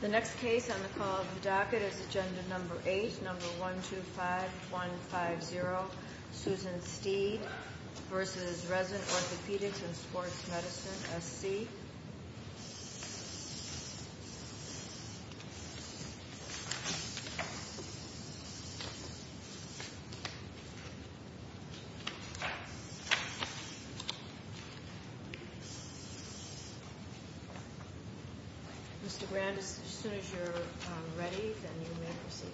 The next case on the call of the docket is agenda number 8, number 125150. Susan Steed v. Rezin Orthopedics and Sports Medicine, S.C. Mr. Grand, as soon as you're ready, then you may proceed.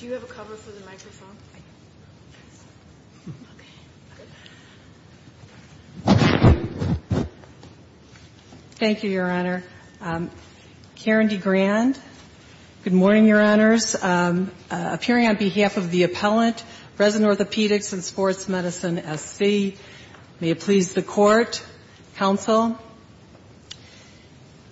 Do you have a cover for the microphone? Thank you, Your Honor. Karen D. Grand, good morning, Your Honors. Appearing on behalf of the appellant, Rezin Orthopedics and Sports Medicine, S.C., may it please the Court, counsel.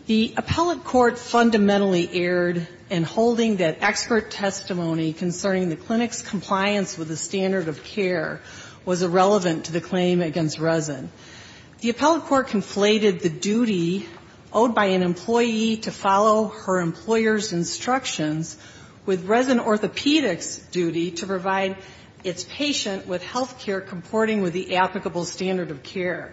The appellate court fundamentally erred in holding that expert testimony concerning the clinic's compliance with the standard of care was irrelevant to the claim against Rezin. The appellate court conflated the duty owed by an employee to follow her employer's instructions with Rezin Orthopedics' duty to provide its patient with health care comporting with the applicable standard of care.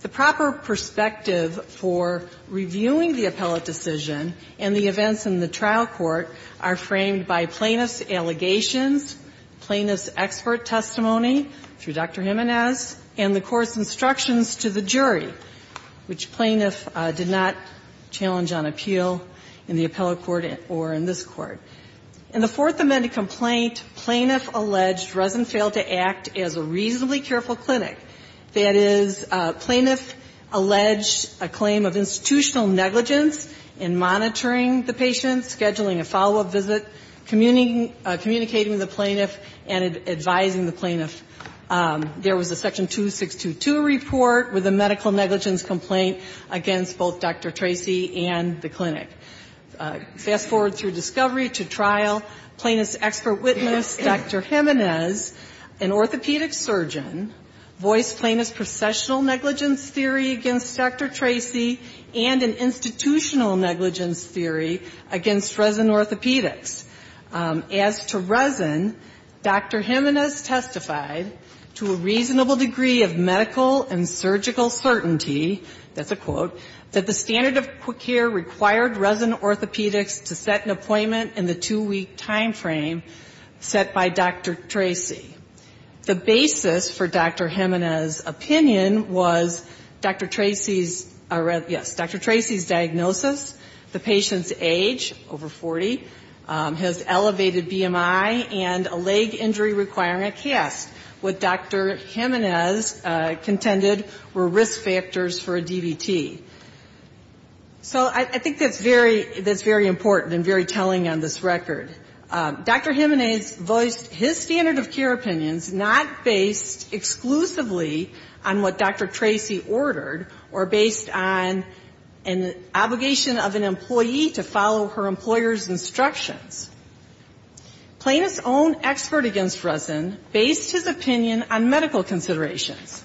The proper perspective for reviewing the appellate decision and the events in the trial court are framed by plaintiff's allegations, plaintiff's expert testimony through Dr. Jimenez, and the court's instructions to the jury, which plaintiff did not challenge on appeal in the appellate court or in this court. In the Fourth Amendment complaint, plaintiff alleged Rezin failed to act as a reasonably careful clinic. That is, plaintiff alleged a claim of institutional negligence in monitoring the patient, scheduling a follow-up visit, communicating with the plaintiff, and advising the plaintiff. There was a Section 2622 report with a medical negligence complaint against both Dr. Tracy and the clinic. Fast-forward through discovery to trial, plaintiff's expert witness, Dr. Jimenez, an orthopedic surgeon, voiced plaintiff's processional negligence theory against Dr. Tracy and an institutional negligence theory against Rezin Orthopedics. As to Rezin, Dr. Jimenez testified, to a reasonable degree of medical and surgical certainty, that's a quote, that the standard of care required Rezin Orthopedics to set an appointment in the two-week time frame set by Dr. Tracy. The basis for Dr. Jimenez's opinion was Dr. Tracy's, yes, Dr. Tracy's diagnosis, the patient's age, over 40, his elevated BMI, and a leg injury requiring a cast. What Dr. Jimenez contended were risk factors for a DVT. So I think that's very important and very telling on this record. Dr. Jimenez voiced his standard of care opinions not based exclusively on what Dr. Tracy ordered or based on an obligation of an employee to follow her employer's instructions. Plaintiff's own expert against Rezin based his opinion on medical considerations.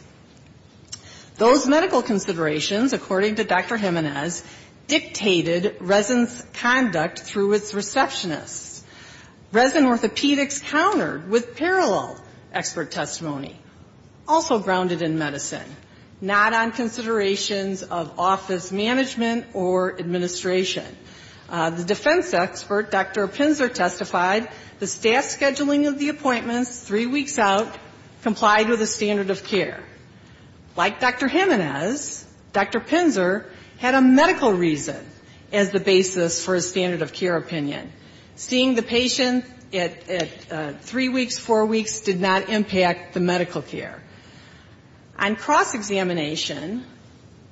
Those medical considerations, according to Dr. Jimenez, dictated Rezin's conduct through its receptionists. Rezin Orthopedics countered with parallel expert testimony, also grounded in medicine, not on considerations of office management or administration. The defense expert, Dr. Pinsler testified, the staff scheduling of the appointments three weeks out complied with the standard of care. Like Dr. Jimenez, Dr. Pinsler had a medical reason as the basis for his standard of care opinion. Seeing the patient at three weeks, four weeks did not impact the medical care. On cross-examination,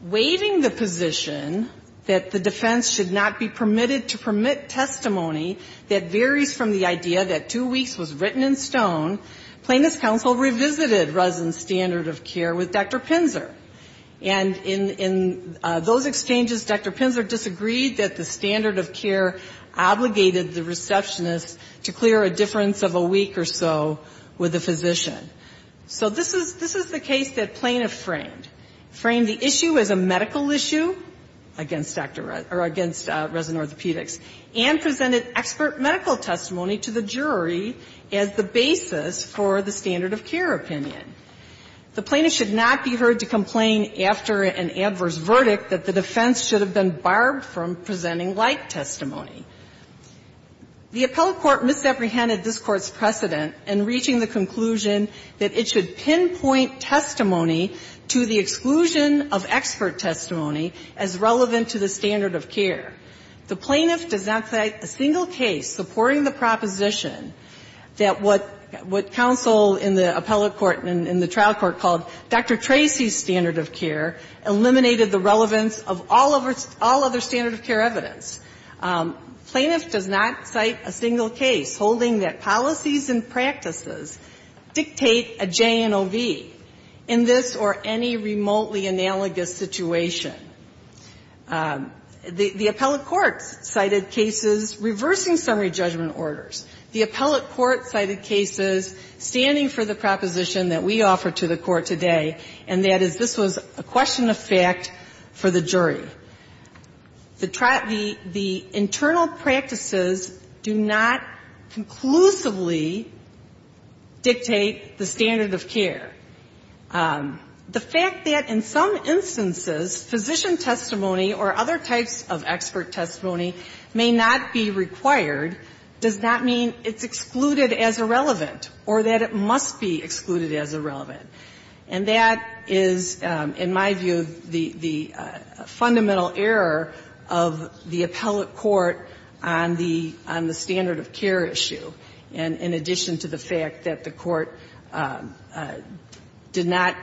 waiving the position that the defense should not be permitted to permit testimony that varies from the idea that two weeks was written in stone, Plaintiff's counsel revisited Rezin's standard of care with Dr. Pinsler. And in those exchanges, Dr. Pinsler disagreed that the standard of care obligated the receptionists to clear a difference of a week or so with a physician. So this is the case that plaintiff framed. Framed the issue as a medical issue against Dr. Rezin, or against Rezin Orthopedics, and presented expert medical testimony to the jury as the basis for the standard of care opinion. The plaintiff should not be heard to complain after an adverse verdict that the defense should have been barred from presenting like testimony. The appellate court misapprehended this Court's precedent in reaching the conclusion that it should pinpoint testimony to the exclusion of expert testimony as relevant to the standard of care. The plaintiff does not cite a single case supporting the proposition that what counsel in the appellate court and in the trial court called Dr. Tracy's standard of care eliminated the relevance of all other standard of care evidence. Plaintiff does not cite a single case holding that policies and practices dictate a J and OV in this or any remotely analogous situation. The appellate court cited cases reversing summary judgment orders. The appellate court cited cases standing for the proposition that we offer to the Court today, and that is this was a question of fact for the jury. The internal practices do not conclusively dictate that the appellate court's standard of care. The fact that in some instances physician testimony or other types of expert testimony may not be required does not mean it's excluded as irrelevant or that it must be excluded as irrelevant. And that is, in my view, the fundamental error of the appellate court on the standard of care issue, in addition to the fact that the Court did not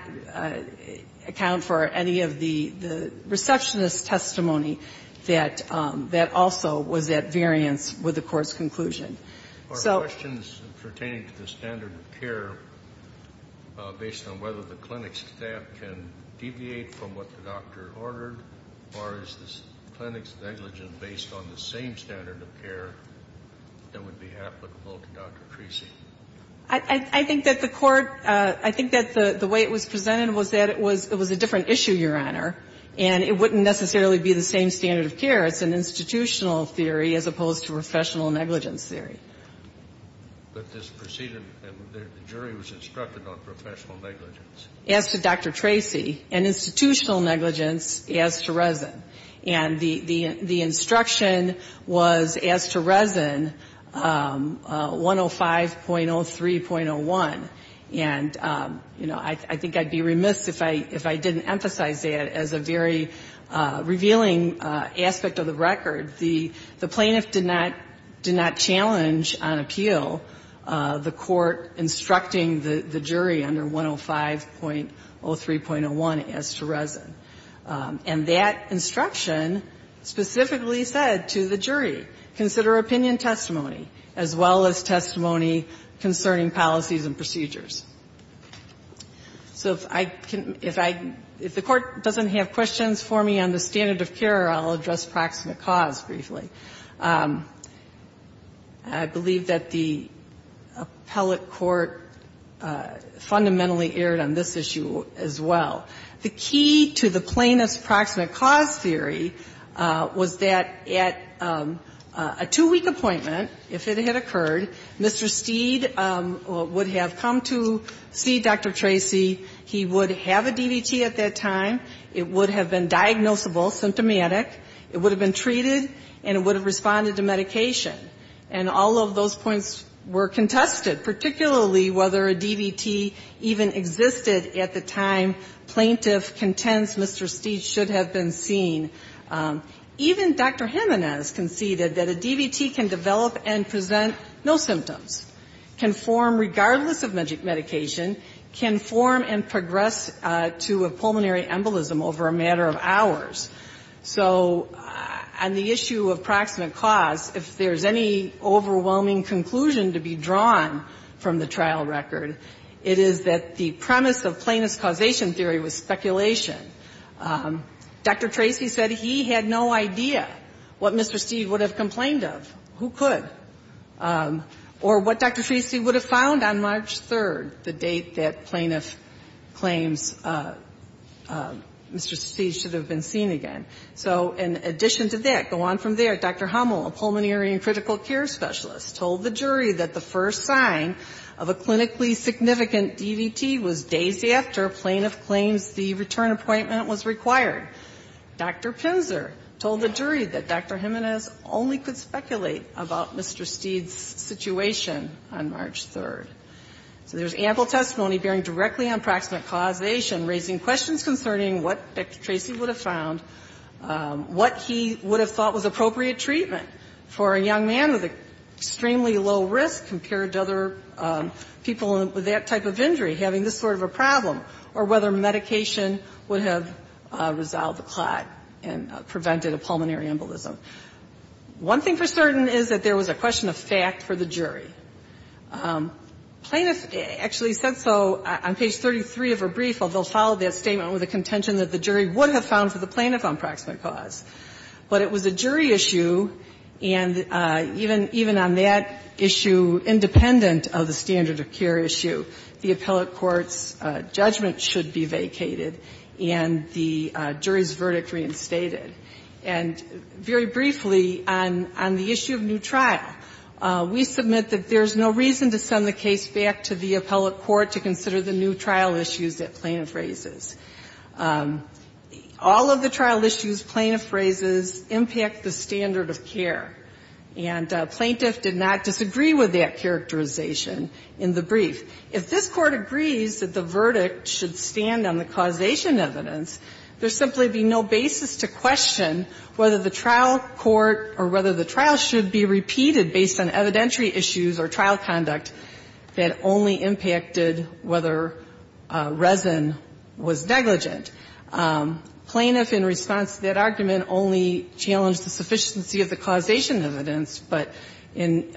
account for any of the receptionist's testimony that that also was at variance with the Court's conclusion. So the question is pertaining to the standard of care based on whether the clinic's staff can deviate from what the doctor ordered, or is the clinic's negligence based on the same standard of care that would be applicable to Dr. Tracy? I think that the Court – I think that the way it was presented was that it was a different issue, Your Honor, and it wouldn't necessarily be the same standard of care. It's an institutional theory as opposed to professional negligence theory. But this proceeded – the jury was instructed on professional negligence. As to Dr. Tracy, and institutional negligence as to Resin. And the instruction was as to Resin, 105.03.01. And, you know, I think I'd be remiss if I didn't emphasize that as a very revealing aspect of the record. The plaintiff did not challenge on appeal the Court instructing the jury under 105.03.01 as to Resin. And that instruction specifically said to the jury, consider opinion testimony as well as testimony concerning policies and procedures. So if I can – if I – if the Court doesn't have questions for me on the standard of care, I'll address proximate cause briefly. I believe that the appellate court fundamentally erred on this issue as well. The key to the plaintiff's proximate cause theory was that at a two-week appointment, if it had occurred, Mr. Steed would have come to see Dr. Tracy. He would have a DVT at that time. It would have been diagnosable, symptomatic. It would have been treated, and it would have responded to medication. And all of those points were contested, particularly whether a DVT even existed at the time plaintiff contends Mr. Steed should have been seen. Even Dr. Jimenez conceded that a DVT can develop and present no symptoms, can form regardless of medication, can form and progress to a pulmonary embolism over a matter of hours. So on the issue of proximate cause, if there's any overwhelming conclusion to be drawn from the trial record, it is that the premise of plaintiff's causation theory was speculation. Dr. Tracy said he had no idea what Mr. Steed would have complained of. Who could? Or what Dr. Tracy would have found on March 3rd, the date that plaintiff claims Mr. Steed should have been seen again. So in addition to that, go on from there, Dr. Hummel, a pulmonary and critical care specialist, told the jury that the first sign of a clinically significant DVT was days after plaintiff claims the return appointment was required. Dr. Pinser told the jury that Dr. Jimenez only could speculate about Mr. Steed's situation on March 3rd. So there's ample testimony bearing directly on proximate causation, raising questions concerning what Dr. Tracy would have found, what he would have thought was appropriate treatment for a young man with an extremely low risk compared to other people with that type of injury, having this sort of a problem, or whether medication would have resolved the clot and prevented a pulmonary embolism. One thing for certain is that there was a question of fact for the jury. Plaintiff actually said so on page 33 of her brief, although followed that statement with a contention that the jury would have found for the plaintiff on proximate cause. But it was a jury issue, and even on that issue, independent of the standard of care issue, the appellate court's judgment should be vacated and the jury's verdict reinstated. And very briefly, on the issue of new trial, we submit that there's no reason to send the case back to the appellate court to consider the new trial issues that plaintiff raises. All of the trial issues plaintiff raises impact the standard of care. And plaintiff did not disagree with that characterization in the brief. If this Court agrees that the verdict should stand on the causation evidence, there'd simply be no basis to question whether the trial court or whether the trial should be repeated based on evidentiary issues or trial conduct that only impacted whether resin was negligent. Plaintiff in response to that argument only challenged the sufficiency of the causation evidence, but in,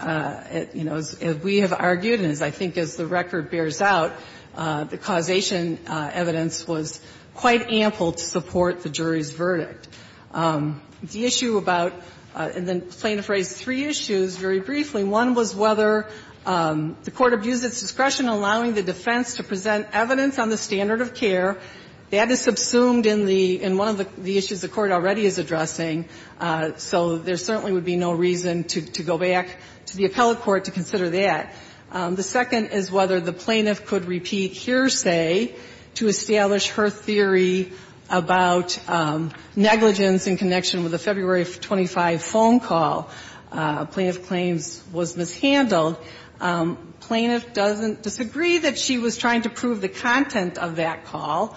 you know, as we have argued and as I think as the record bears out, the causation evidence was quite ample to support the jury's verdict. The issue about the plaintiff raised three issues very briefly. One was whether the Court abused its discretion in allowing the defense to present evidence on the standard of care. That is subsumed in the one of the issues the Court already is addressing, so there certainly would be no reason to go back to the appellate court to consider that. The second is whether the plaintiff could repeat hearsay to establish her theory about negligence in connection with the February 25 phone call. Plaintiff claims was mishandled. Plaintiff doesn't disagree that she was trying to prove the content of that call.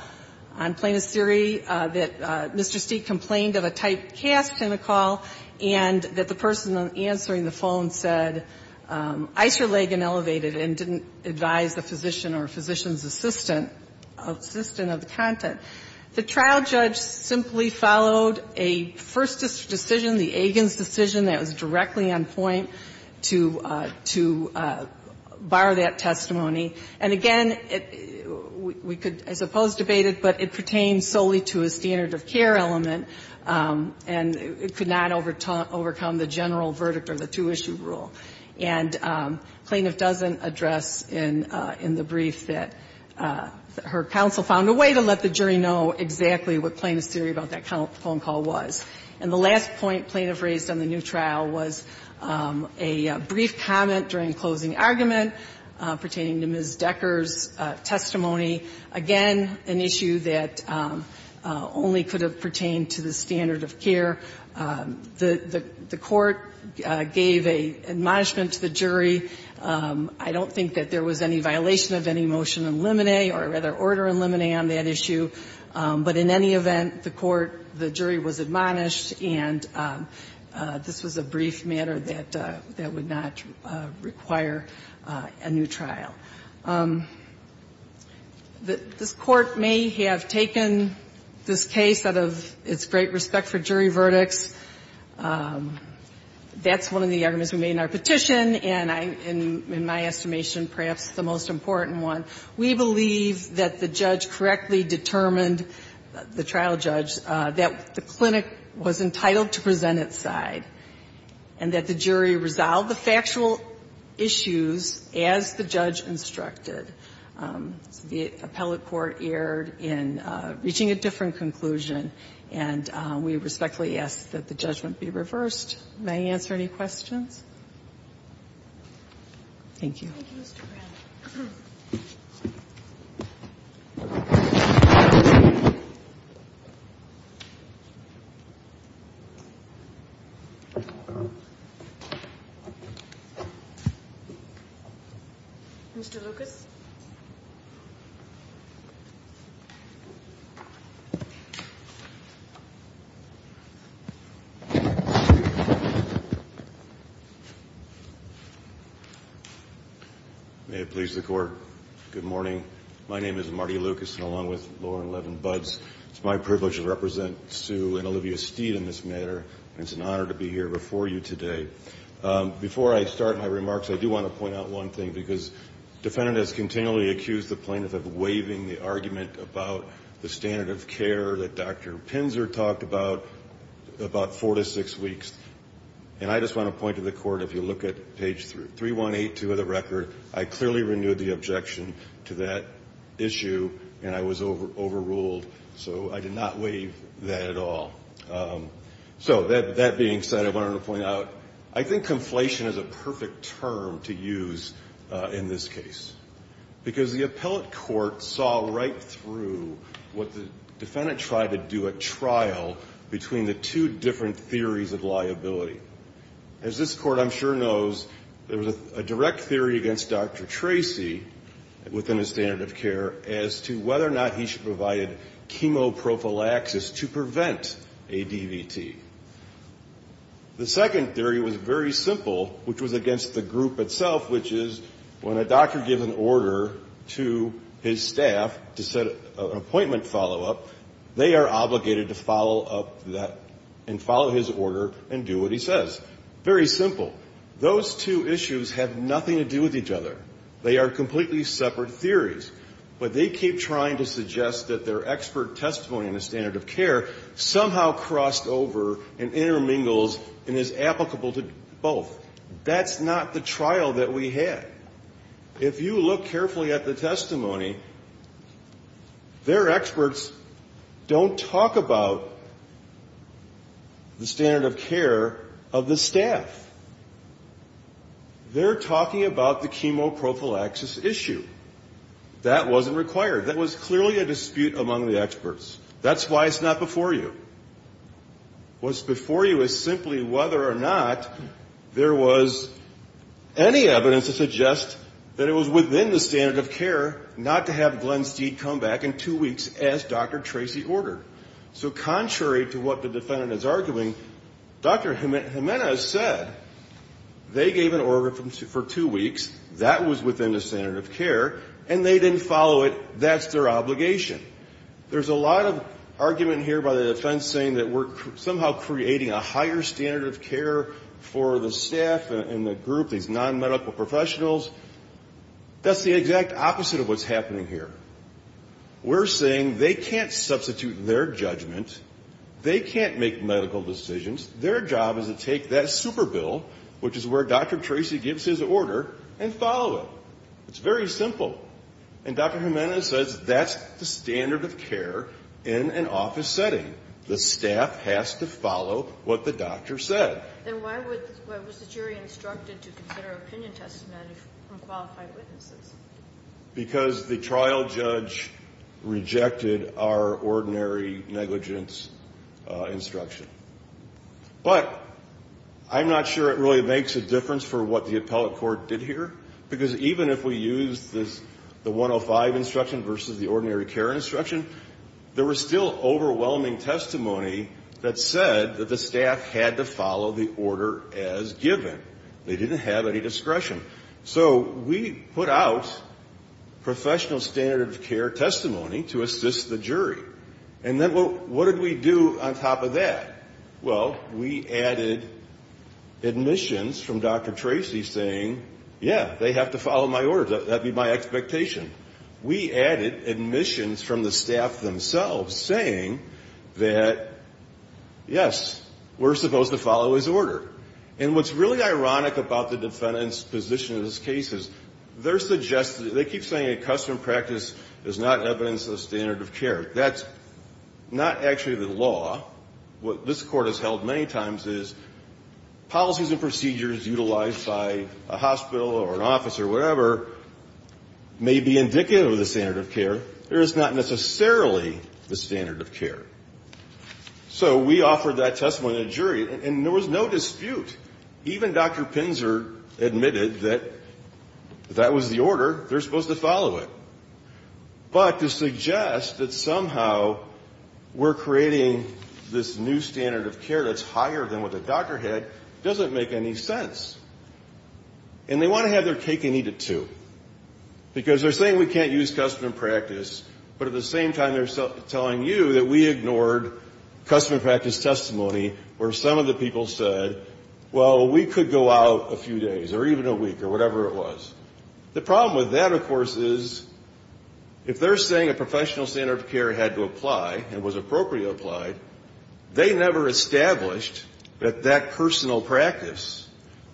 Plaintiff's theory that Mr. Steek complained of a typecast in the call and that the person answering the phone said Eicher-Lagan elevated and didn't advise the physician or physician's assistant of the content. The trial judge simply followed a first decision, the Agins decision that was directly on point to bar that testimony. And again, we could, I suppose, debate it, but it pertains solely to a standard of care element, and it could not overcome the general verdict or the two-issue rule. And plaintiff doesn't address in the brief that her counsel found a way to let the jury know exactly what plaintiff's theory about that phone call was. And the last point plaintiff raised on the new trial was a brief comment during closing argument pertaining to Ms. Decker's testimony, again, an issue that only could have pertained to the standard of care. The court gave a admonishment to the jury. I don't think that there was any violation of any motion in limine or, rather, order in limine on that issue. But in any event, the court, the jury was admonished, and this was a brief matter that would not require a new trial. This Court may have taken this case out of its great respect for jury verdicts. That's one of the arguments we made in our petition, and in my estimation, perhaps the most important one. We believe that the judge correctly determined, the trial judge, that the clinic was entitled to present its side, and that the jury resolved the factual issues as the judge instructed. The appellate court erred in reaching a different conclusion, and we respectfully ask that the judgment be reversed. May I answer any questions? Thank you. Thank you, Mr. Brown. Mr. Lucas? May it please the Court. Good morning. My name is Marty Lucas, along with Lauren Levin-Budds. It's my privilege to represent Sue and Olivia Steed in this matter, and it's an honor to be here before you today. Before I start my remarks, I do want to point out one thing, because the defendant has continually accused the plaintiff of waiving the argument about the standard of care that Dr. Pinzer talked about, about four to six weeks. And I just want to point to the Court, if you look at page 3182 of the record, I clearly renewed the objection to that issue, and I was overruled, so I did not waive that at all. So that being said, I wanted to point out, I think conflation is a perfect term to use in this case, because the appellate court saw right through what the defendant tried to do at trial between the two different theories of liability. As this Court, I'm sure, knows, there was a direct theory against Dr. Tracy, within his standard of care, as to whether or not he should provide chemoprophylaxis to prevent ADVT. The second theory was very simple, which was against the group itself, which is when a doctor gives an order to his staff to set an appointment follow-up, they are obligated to follow up that and follow his order and do what he says. Very simple. Those two issues have nothing to do with each other. They are completely separate theories. But they keep trying to suggest that their expert testimony on the standard of care somehow crossed over and intermingles and is applicable to both. That's not the trial that we had. If you look carefully at the testimony, their experts don't talk about the standard of care of the staff. They're talking about the chemoprophylaxis issue. That wasn't required. That was clearly a dispute among the experts. That's why it's not before you. What's before you is simply whether or not there was any evidence to suggest that it was within the standard of care not to have Glenn Steed come back in two weeks as Dr. Tracy ordered. So contrary to what the defendant is arguing, Dr. Jimenez said they gave an order for two weeks. That was within the standard of care. And they didn't follow it. That's their obligation. There's a lot of argument here by the defense saying that we're somehow creating a higher standard of care for the staff and the group, these non-medical professionals. That's the exact opposite of what's happening here. We're saying they can't substitute their judgment. They can't make medical decisions. Their job is to take that super bill, which is where Dr. Tracy gives his order, and follow it. It's very simple. And Dr. Jimenez says that's the standard of care in an office setting. The staff has to follow what the doctor said. And why was the jury instructed to consider opinion testimony from qualified witnesses? Because the trial judge rejected our ordinary negligence instruction. But I'm not sure it really makes a difference for what the appellate court did here. Because even if we use the 105 instruction versus the ordinary care instruction, there was still overwhelming testimony that said that the staff had to follow the order as given. They didn't have any discretion. So we put out professional standard of care testimony to assist the jury. And then what did we do on top of that? Well, we added admissions from Dr. Tracy saying, yeah, they have to follow my orders. That would be my expectation. We added admissions from the staff themselves saying that, yes, we're supposed to follow his order. And what's really ironic about the defendant's position in this case is they're suggesting they keep saying a custom practice is not evidence of standard of care. That's not actually the law. What this Court has held many times is policies and procedures utilized by a hospital or an office or whatever may be indicative of the standard of care. It is not necessarily the standard of care. So we offered that testimony to the jury, and there was no dispute. Even Dr. Pinzer admitted that that was the order. They're supposed to follow it. But to suggest that somehow we're creating this new standard of care that's higher than what the doctor had doesn't make any sense. And they want to have their cake and eat it, too. Because they're saying we can't use custom practice, but at the same time they're telling you that we ignored custom practice testimony where some of the people said, well, we could go out a few days or even a week or whatever it was. The problem with that, of course, is if they're saying a professional standard of care had to apply and was appropriately applied, they never established that that personal practice,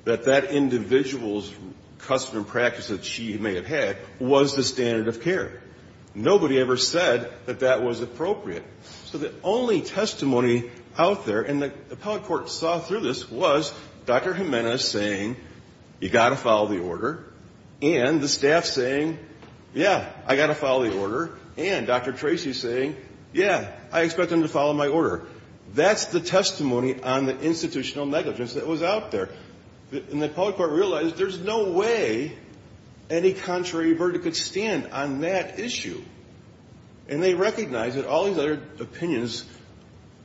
that that individual's custom practice that she may have had was the standard of care. Nobody ever said that that was appropriate. So the only testimony out there, and the appellate court saw through this, was Dr. Jimenez saying, you've got to follow the order, and the staff saying, yeah, I've got to follow the order, and Dr. Tracy saying, yeah, I expect them to follow my order. That's the testimony on the institutional negligence that was out there. And the appellate court realized there's no way any contrary verdict could stand on that issue. And they recognized that all these other opinions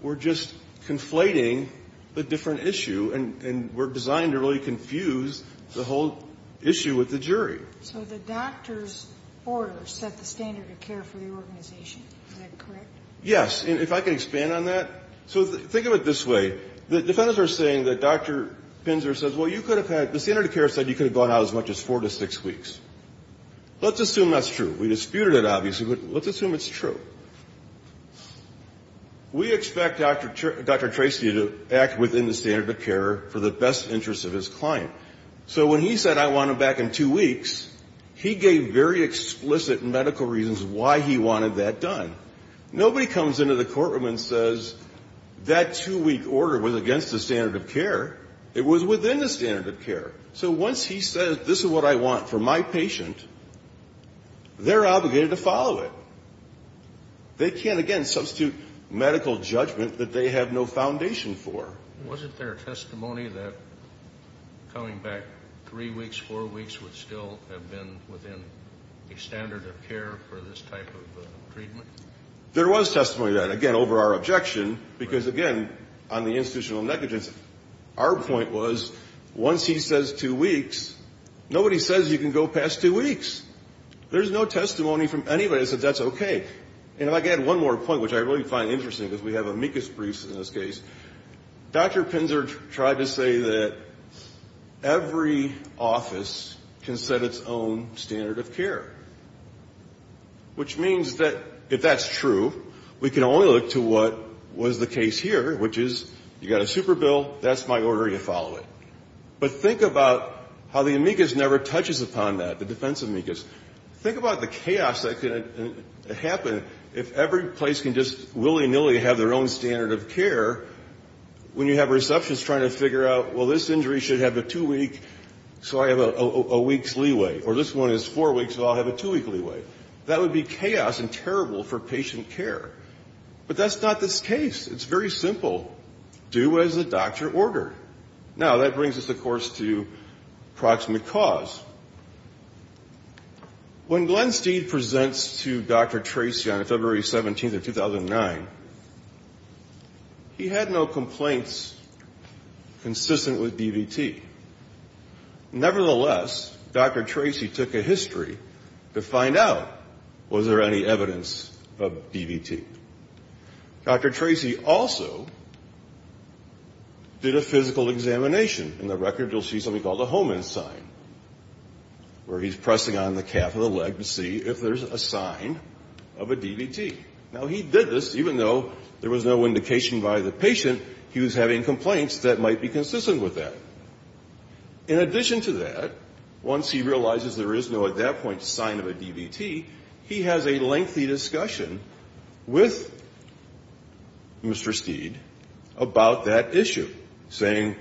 were just conflating the different issue and were designed to really confuse the whole issue with the jury. So the doctor's order set the standard of care for the organization. Is that correct? Yes. And if I can expand on that. So think of it this way. The defendants are saying that Dr. Pinzer says, well, you could have had the standard of care said you could have gone out as much as four to six weeks. Let's assume that's true. We disputed it, obviously, but let's assume it's true. We expect Dr. Tracy to act within the standard of care for the best interest of his client. So when he said I want him back in two weeks, he gave very explicit medical reasons why he wanted that done. Nobody comes into the courtroom and says that two-week order was against the standard of care. It was within the standard of care. So once he says this is what I want for my patient, they're obligated to follow it. They can't, again, substitute medical judgment that they have no foundation for. Wasn't there testimony that coming back three weeks, four weeks would still have been within a standard of care for this type of treatment? There was testimony of that, again, over our objection, because, again, on the institutional negligence, our point was once he says two weeks, nobody says you can go past two weeks. There's no testimony from anybody that says that's okay. And if I could add one more point, which I really find interesting, because we have amicus briefs in this case. Dr. Pinzer tried to say that every office can set its own standard of care, which means that if that's true, we can only look to what was the case here, which is you got a super bill, that's my order, you follow it. But think about how the amicus never touches upon that, the defense amicus. Think about the chaos that could happen if every place can just willy-nilly have their own standard of care when you have receptions trying to figure out, well, this injury should have a two-week, so I have a week's leeway. Or this one is four weeks, so I'll have a two-week leeway. That would be chaos and terrible for patient care. But that's not this case. It's very simple. Do as the doctor ordered. Now, that brings us, of course, to proximate cause. When Glenn Steed presents to Dr. Tracy on February 17th of 2009, he had no complaints consistent with DVT. Nevertheless, Dr. Tracy took a history to find out was there any evidence of DVT. Dr. Tracy also did a physical examination. In the record, you'll see something called a Hohmann sign, where he's pressing on the calf of the leg to see if there's a sign of a DVT. Now, he did this even though there was no indication by the patient he was having complaints that might be consistent with that. In addition to that, once he realizes there is no, at that point, sign of a DVT, he has a lengthy discussion with Mr. Steed about that issue, saying,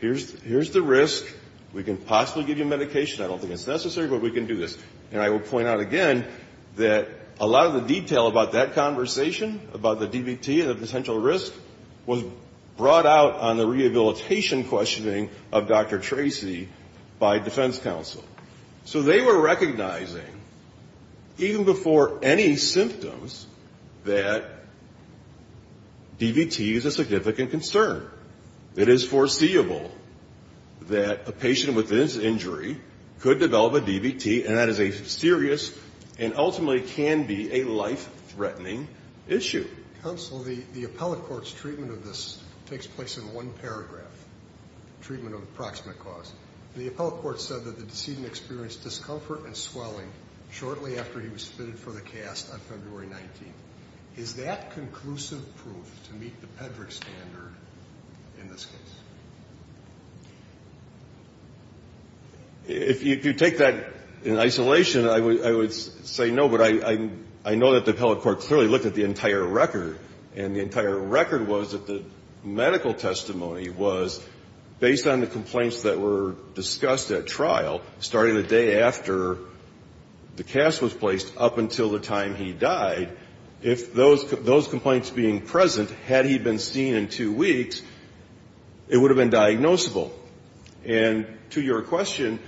here's the risk. We can possibly give you medication. I don't think it's necessary, but we can do this. And I will point out again that a lot of the detail about that conversation about the DVT and the potential risk was brought out on the rehabilitation questioning of Dr. Tracy by defense counsel. So they were recognizing, even before any symptoms, that DVT is a significant concern. It is foreseeable that a patient with this injury could develop a DVT, and that is a serious and ultimately can be a life-threatening issue. Counsel, the appellate court's treatment of this takes place in one paragraph, treatment of the proximate cause. The appellate court said that the decedent experienced discomfort and swelling shortly after he was submitted for the cast on February 19th. Is that conclusive proof to meet the PEDRC standard in this case? If you take that in isolation, I would say no, but I know that the appellate court clearly looked at the entire record, and the entire record was that the medical testimony was based on the complaints that were discussed at trial starting the day after the cast was placed up until the time he died. If those complaints being present, had he been seen in two weeks, it would have been diagnosable. And to your question,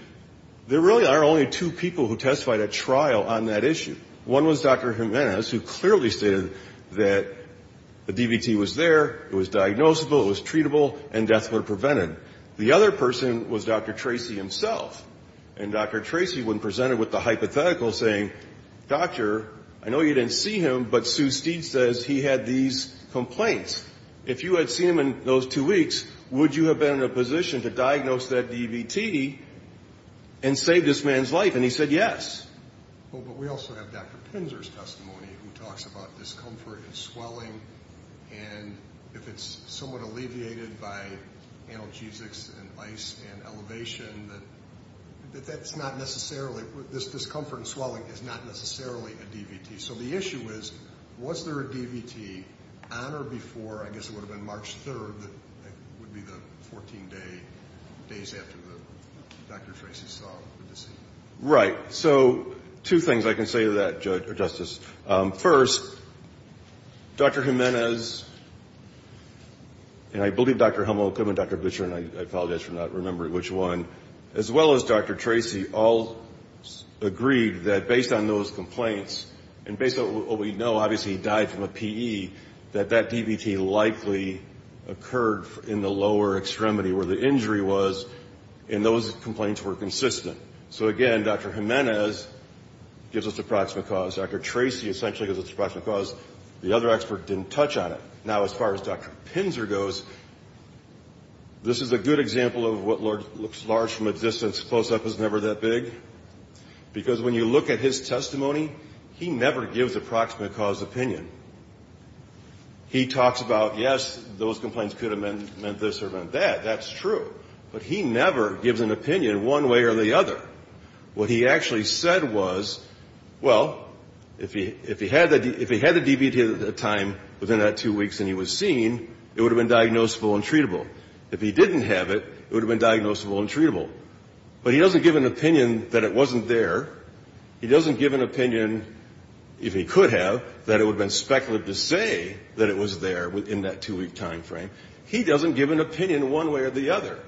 there really are only two people who testified at trial on that issue. One was Dr. Jimenez, who clearly stated that the DVT was there, it was diagnosable, it was treatable, and death were prevented. The other person was Dr. Tracy himself. And Dr. Tracy, when presented with the hypothetical, saying, Doctor, I know you didn't see him, but Sue Steed says he had these complaints. If you had seen him in those two weeks, would you have been in a position to diagnose that DVT and save this man's life? And he said yes. But we also have Dr. Pinzer's testimony, who talks about discomfort and swelling, and if it's somewhat alleviated by analgesics and ice and elevation, that that's not necessarily, this discomfort and swelling is not necessarily a DVT. So the issue is, was there a DVT on or before, I guess it would have been March 3rd, that would be the 14 days after Dr. Tracy saw the deceased? Right. So two things I can say to that, Justice. First, Dr. Jimenez, and I believe Dr. Hummel could have been Dr. Butcher, and I apologize for not remembering which one, as well as Dr. Tracy, all agreed that based on those complaints, and based on what we know, obviously he died from a PE, that that DVT likely occurred in the lower extremity, where the injury was, and those complaints were consistent. So again, Dr. Jimenez gives us a proximate cause. Dr. Tracy essentially gives us a proximate cause. The other expert didn't touch on it. Now, as far as Dr. Pinzer goes, this is a good example of what looks large from a distance, close up is never that big, because when you look at his testimony, he never gives a proximate cause opinion. He talks about, yes, those complaints could have meant this or meant that, that's true, but he never gives an opinion one way or the other. What he actually said was, well, if he had the DVT at the time within that two weeks and he was seen, it would have been diagnosable and treatable. If he didn't have it, it would have been diagnosable and treatable. But he doesn't give an opinion that it wasn't there. He doesn't give an opinion, if he could have, that it would have been speculative to say that it was there within that two-week time frame. He doesn't give an opinion one way or the other.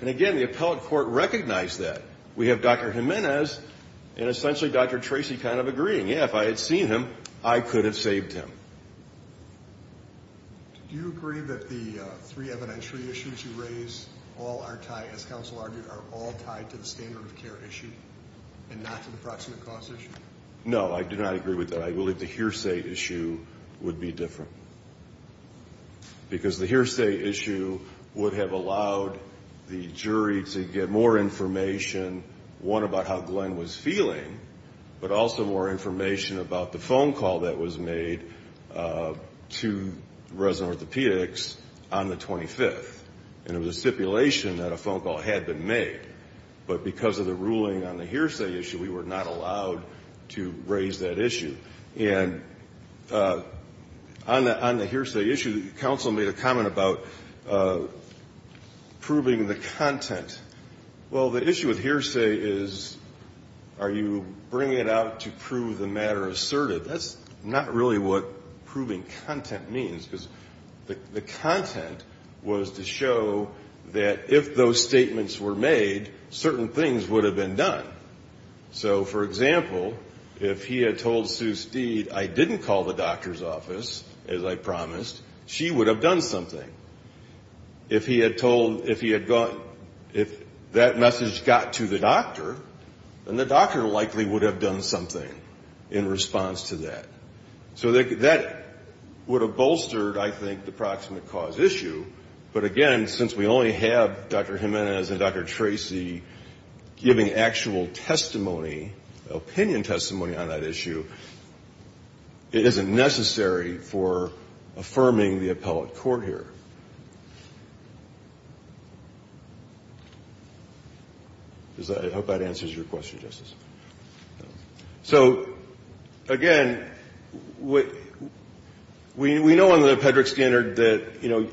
And again, the appellate court recognized that. We have Dr. Jimenez and essentially Dr. Tracy kind of agreeing, yeah, if I had seen him, I could have saved him. Do you agree that the three evidentiary issues you raise all are tied, as counsel argued, are all tied to the standard of care issue and not to the proximate cause issue? No, I do not agree with that. I believe the hearsay issue would be different. Because the hearsay issue would have allowed the jury to get more information, one, about how Glenn was feeling, but also more information about the phone call that was made to resident orthopedics on the 25th. And it was a stipulation that a phone call had been made. But because of the ruling on the hearsay issue, we were not allowed to raise that issue. And on the hearsay issue, counsel made a comment about proving the content. Well, the issue with hearsay is, are you bringing it out to prove the matter asserted? That's not really what proving content means. Because the content was to show that if those statements were made, certain things would have been done. So, for example, if he had told Sue Steed, I didn't call the doctor's office, as I promised, she would have done something. If he had told, if he had gone, if that message got to the doctor, then the doctor likely would have done something in response to that. So that would have bolstered, I think, the proximate cause issue. But again, since we only have Dr. Jimenez and Dr. Tracy giving actual testimony, opinion testimony on that issue, it isn't necessary for affirming the appellate court here. I hope that answers your question, Justice. So, again, we know under the Pedrick standard that, you know,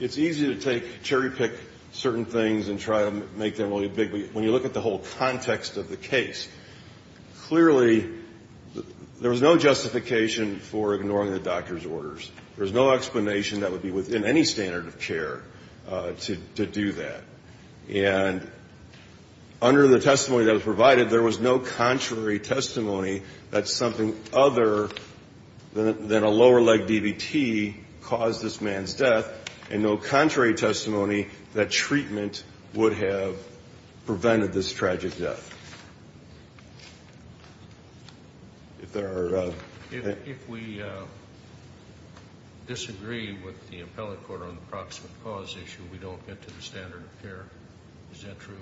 it's easy to take, cherry-pick certain things and try to make them really big. But when you look at the whole context of the case, clearly there was no justification for ignoring the doctor's orders. There was no explanation that would be within any standard of care to do that. And under the testimony that was provided, there was no contrary testimony that something other than a lower-leg DVT caused this man's death. And no contrary testimony that treatment would have prevented this tragic death. If there are... If we disagree with the appellate court on the proximate cause issue, we don't get to the standard of care. Is that true?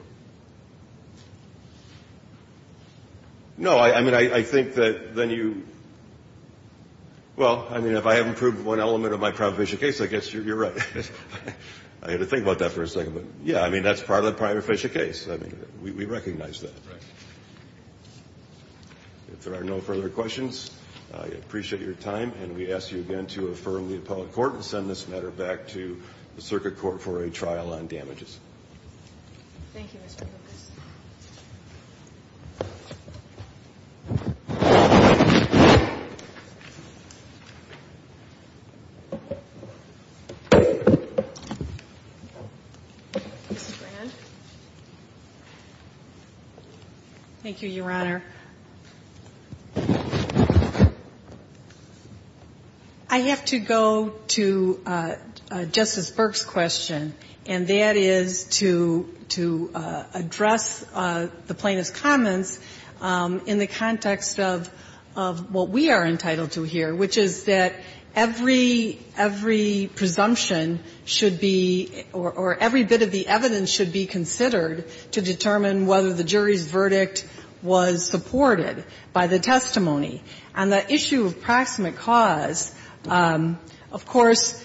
No. I mean, I think that then you... Well, I mean, if I haven't proved one element of my prohibition case, I guess you're right. I had to think about that for a second. But, yeah, I mean, that's part of the prohibition case. I mean, we recognize that. If there are no further questions, I appreciate your time. And we ask you again to affirm the appellate court and send this matter back to the circuit court for a trial on damages. Thank you, Mr. Lucas. Thank you, Your Honor. I have to go to Justice Burke's question, and that is to address the plaintiff's comments in the context of what we are entitled to hear, which is that every presumption should be, or every bit of the evidence should be considered to determine whether the jury's verdict was supported by the testimony. On the issue of proximate cause, of course,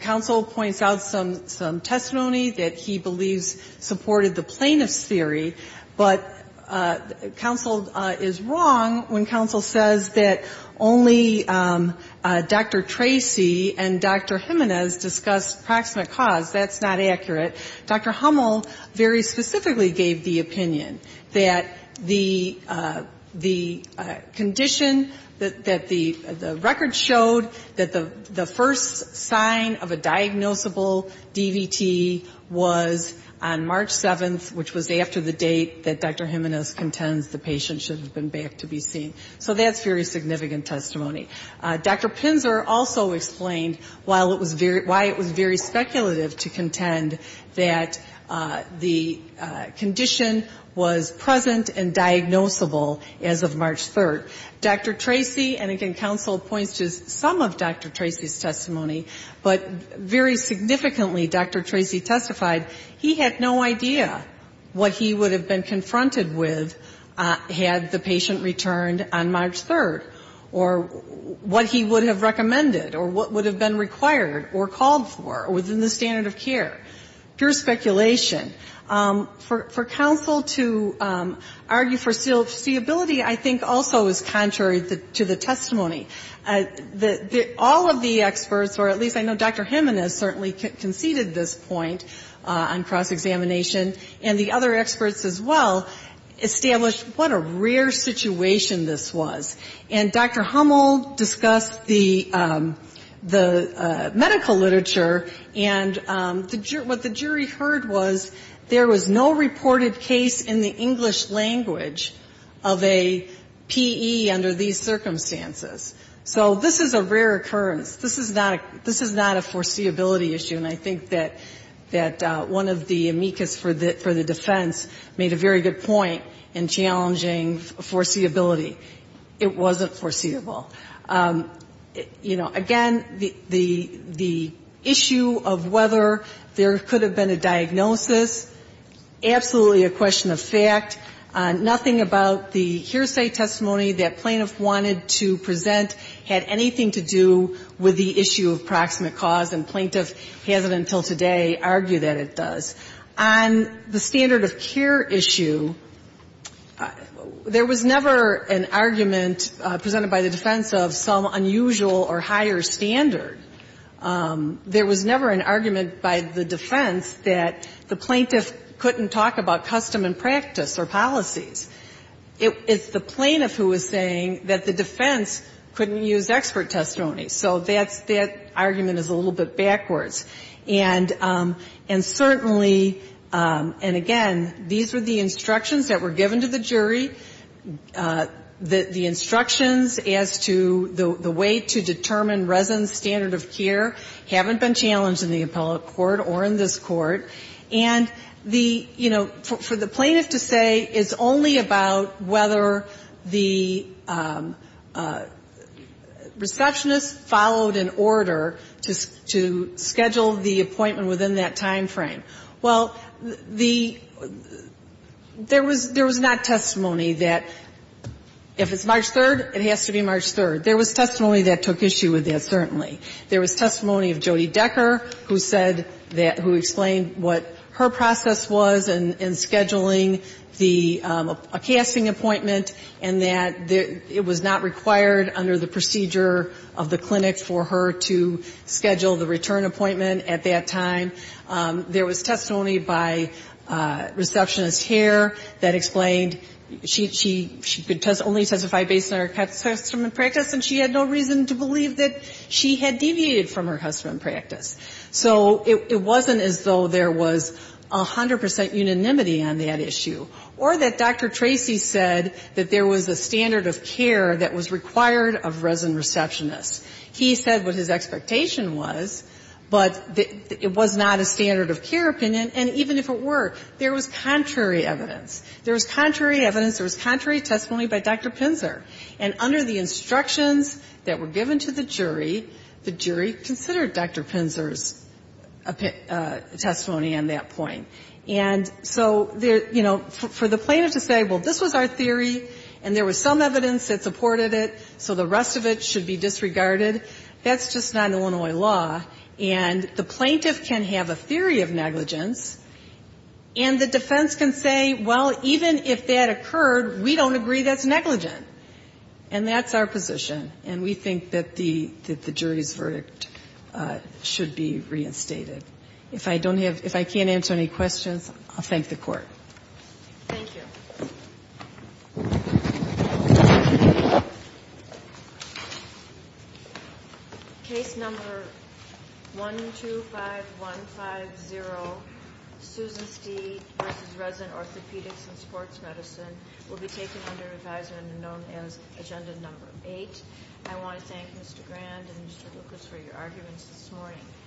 counsel points out some testimony that he believes supported the plaintiff's But counsel is wrong when counsel says that only Dr. Tracy and Dr. Jimenez discussed proximate cause. That's not accurate. Dr. Hummel very specifically gave the opinion that the condition that the record showed that the first sign of a diagnosable DVT was on March 7th, which was after the date that Dr. Jimenez contends the patient should have been back to be seen. So that's very significant testimony. Dr. Pinzer also explained why it was very speculative to contend that the condition was present and diagnosable as of March 3rd. Dr. Tracy, and again, counsel points to some of Dr. Tracy's testimony, but very significantly, Dr. Tracy testified, he had no idea what he would have been confronted with had the patient returned on March 3rd, or what he would have recommended, or what would have been required or called for within the standard of care. Pure speculation. For counsel to argue for seeability, I think, also is contrary to the testimony. All of the experts, or at least I know Dr. Jimenez certainly conceded this point on cross-examination, and the other experts as well, established what a rare situation this was. And Dr. Hummel discussed the medical literature, and what the jury heard was there was no reported case in the English language of a PE under these circumstances. So this is a rare occurrence. This is not a foreseeability issue, and I think that one of the amicus for the defense made a very good point in challenging foreseeability. It wasn't foreseeable. You know, again, the issue of whether there could have been a diagnosis, absolutely a question of fact. Nothing about the hearsay testimony that plaintiff wanted to present had anything to do with the issue of proximate cause, and plaintiff hasn't until today argued that it does. On the standard of care issue, there was never an argument presented by the defense of some unusual or higher standard. There was never an argument by the defense that the plaintiff couldn't talk about custom and practice or policies. It's the plaintiff who is saying that the defense couldn't use expert testimony. So that argument is a little bit backwards. And certainly, and again, these were the instructions that were given to the jury. The instructions as to the way to determine residents' standard of care haven't been challenged in the appellate court or in this court. And the, you know, for the plaintiff to say it's only about whether the receptionist followed an order to schedule the appointment within that time frame. Well, there was not testimony that if it's March 3rd, it has to be March 3rd. There was testimony that took issue with that, certainly. There was testimony of Jody Decker who said that, who explained what her process was in scheduling the, a casting appointment, and that it was not required under the procedure of the clinic for her to schedule the return appointment at that time. There was testimony by Receptionist Hare that explained she could only testify based on her custom and practice, and she had no reason to believe that she had deviated from her custom and practice. So it wasn't as though there was 100 percent unanimity on that issue, or that Dr. Tracy said that there was a standard of care that was required of resident receptionists. He said what his expectation was, but it was not a standard of care opinion, and even if it were, there was contrary evidence. There was contrary evidence, there was contrary testimony by Dr. Pinzer. And under the instructions that were given to the jury, the jury considered Dr. Pinzer's testimony on that point. And so, you know, for the plaintiff to say, well, this was our theory, and there was some evidence that supported it, so the rest of it should be disregarded, that's just not Illinois law. And the plaintiff can have a theory of negligence, and the defense can say, well, even if that occurred, we don't agree that's negligent. And that's our position. And we think that the jury's verdict should be reinstated. If I can't answer any questions, I'll thank the Court. Thank you. Case number 125150, Susan Steed v. Resident Orthopedics and Sports Medicine, will be taken under advisory under known as Agenda Number 8. I want to thank Mr. Grand and Mr. Lucas for your arguments this morning.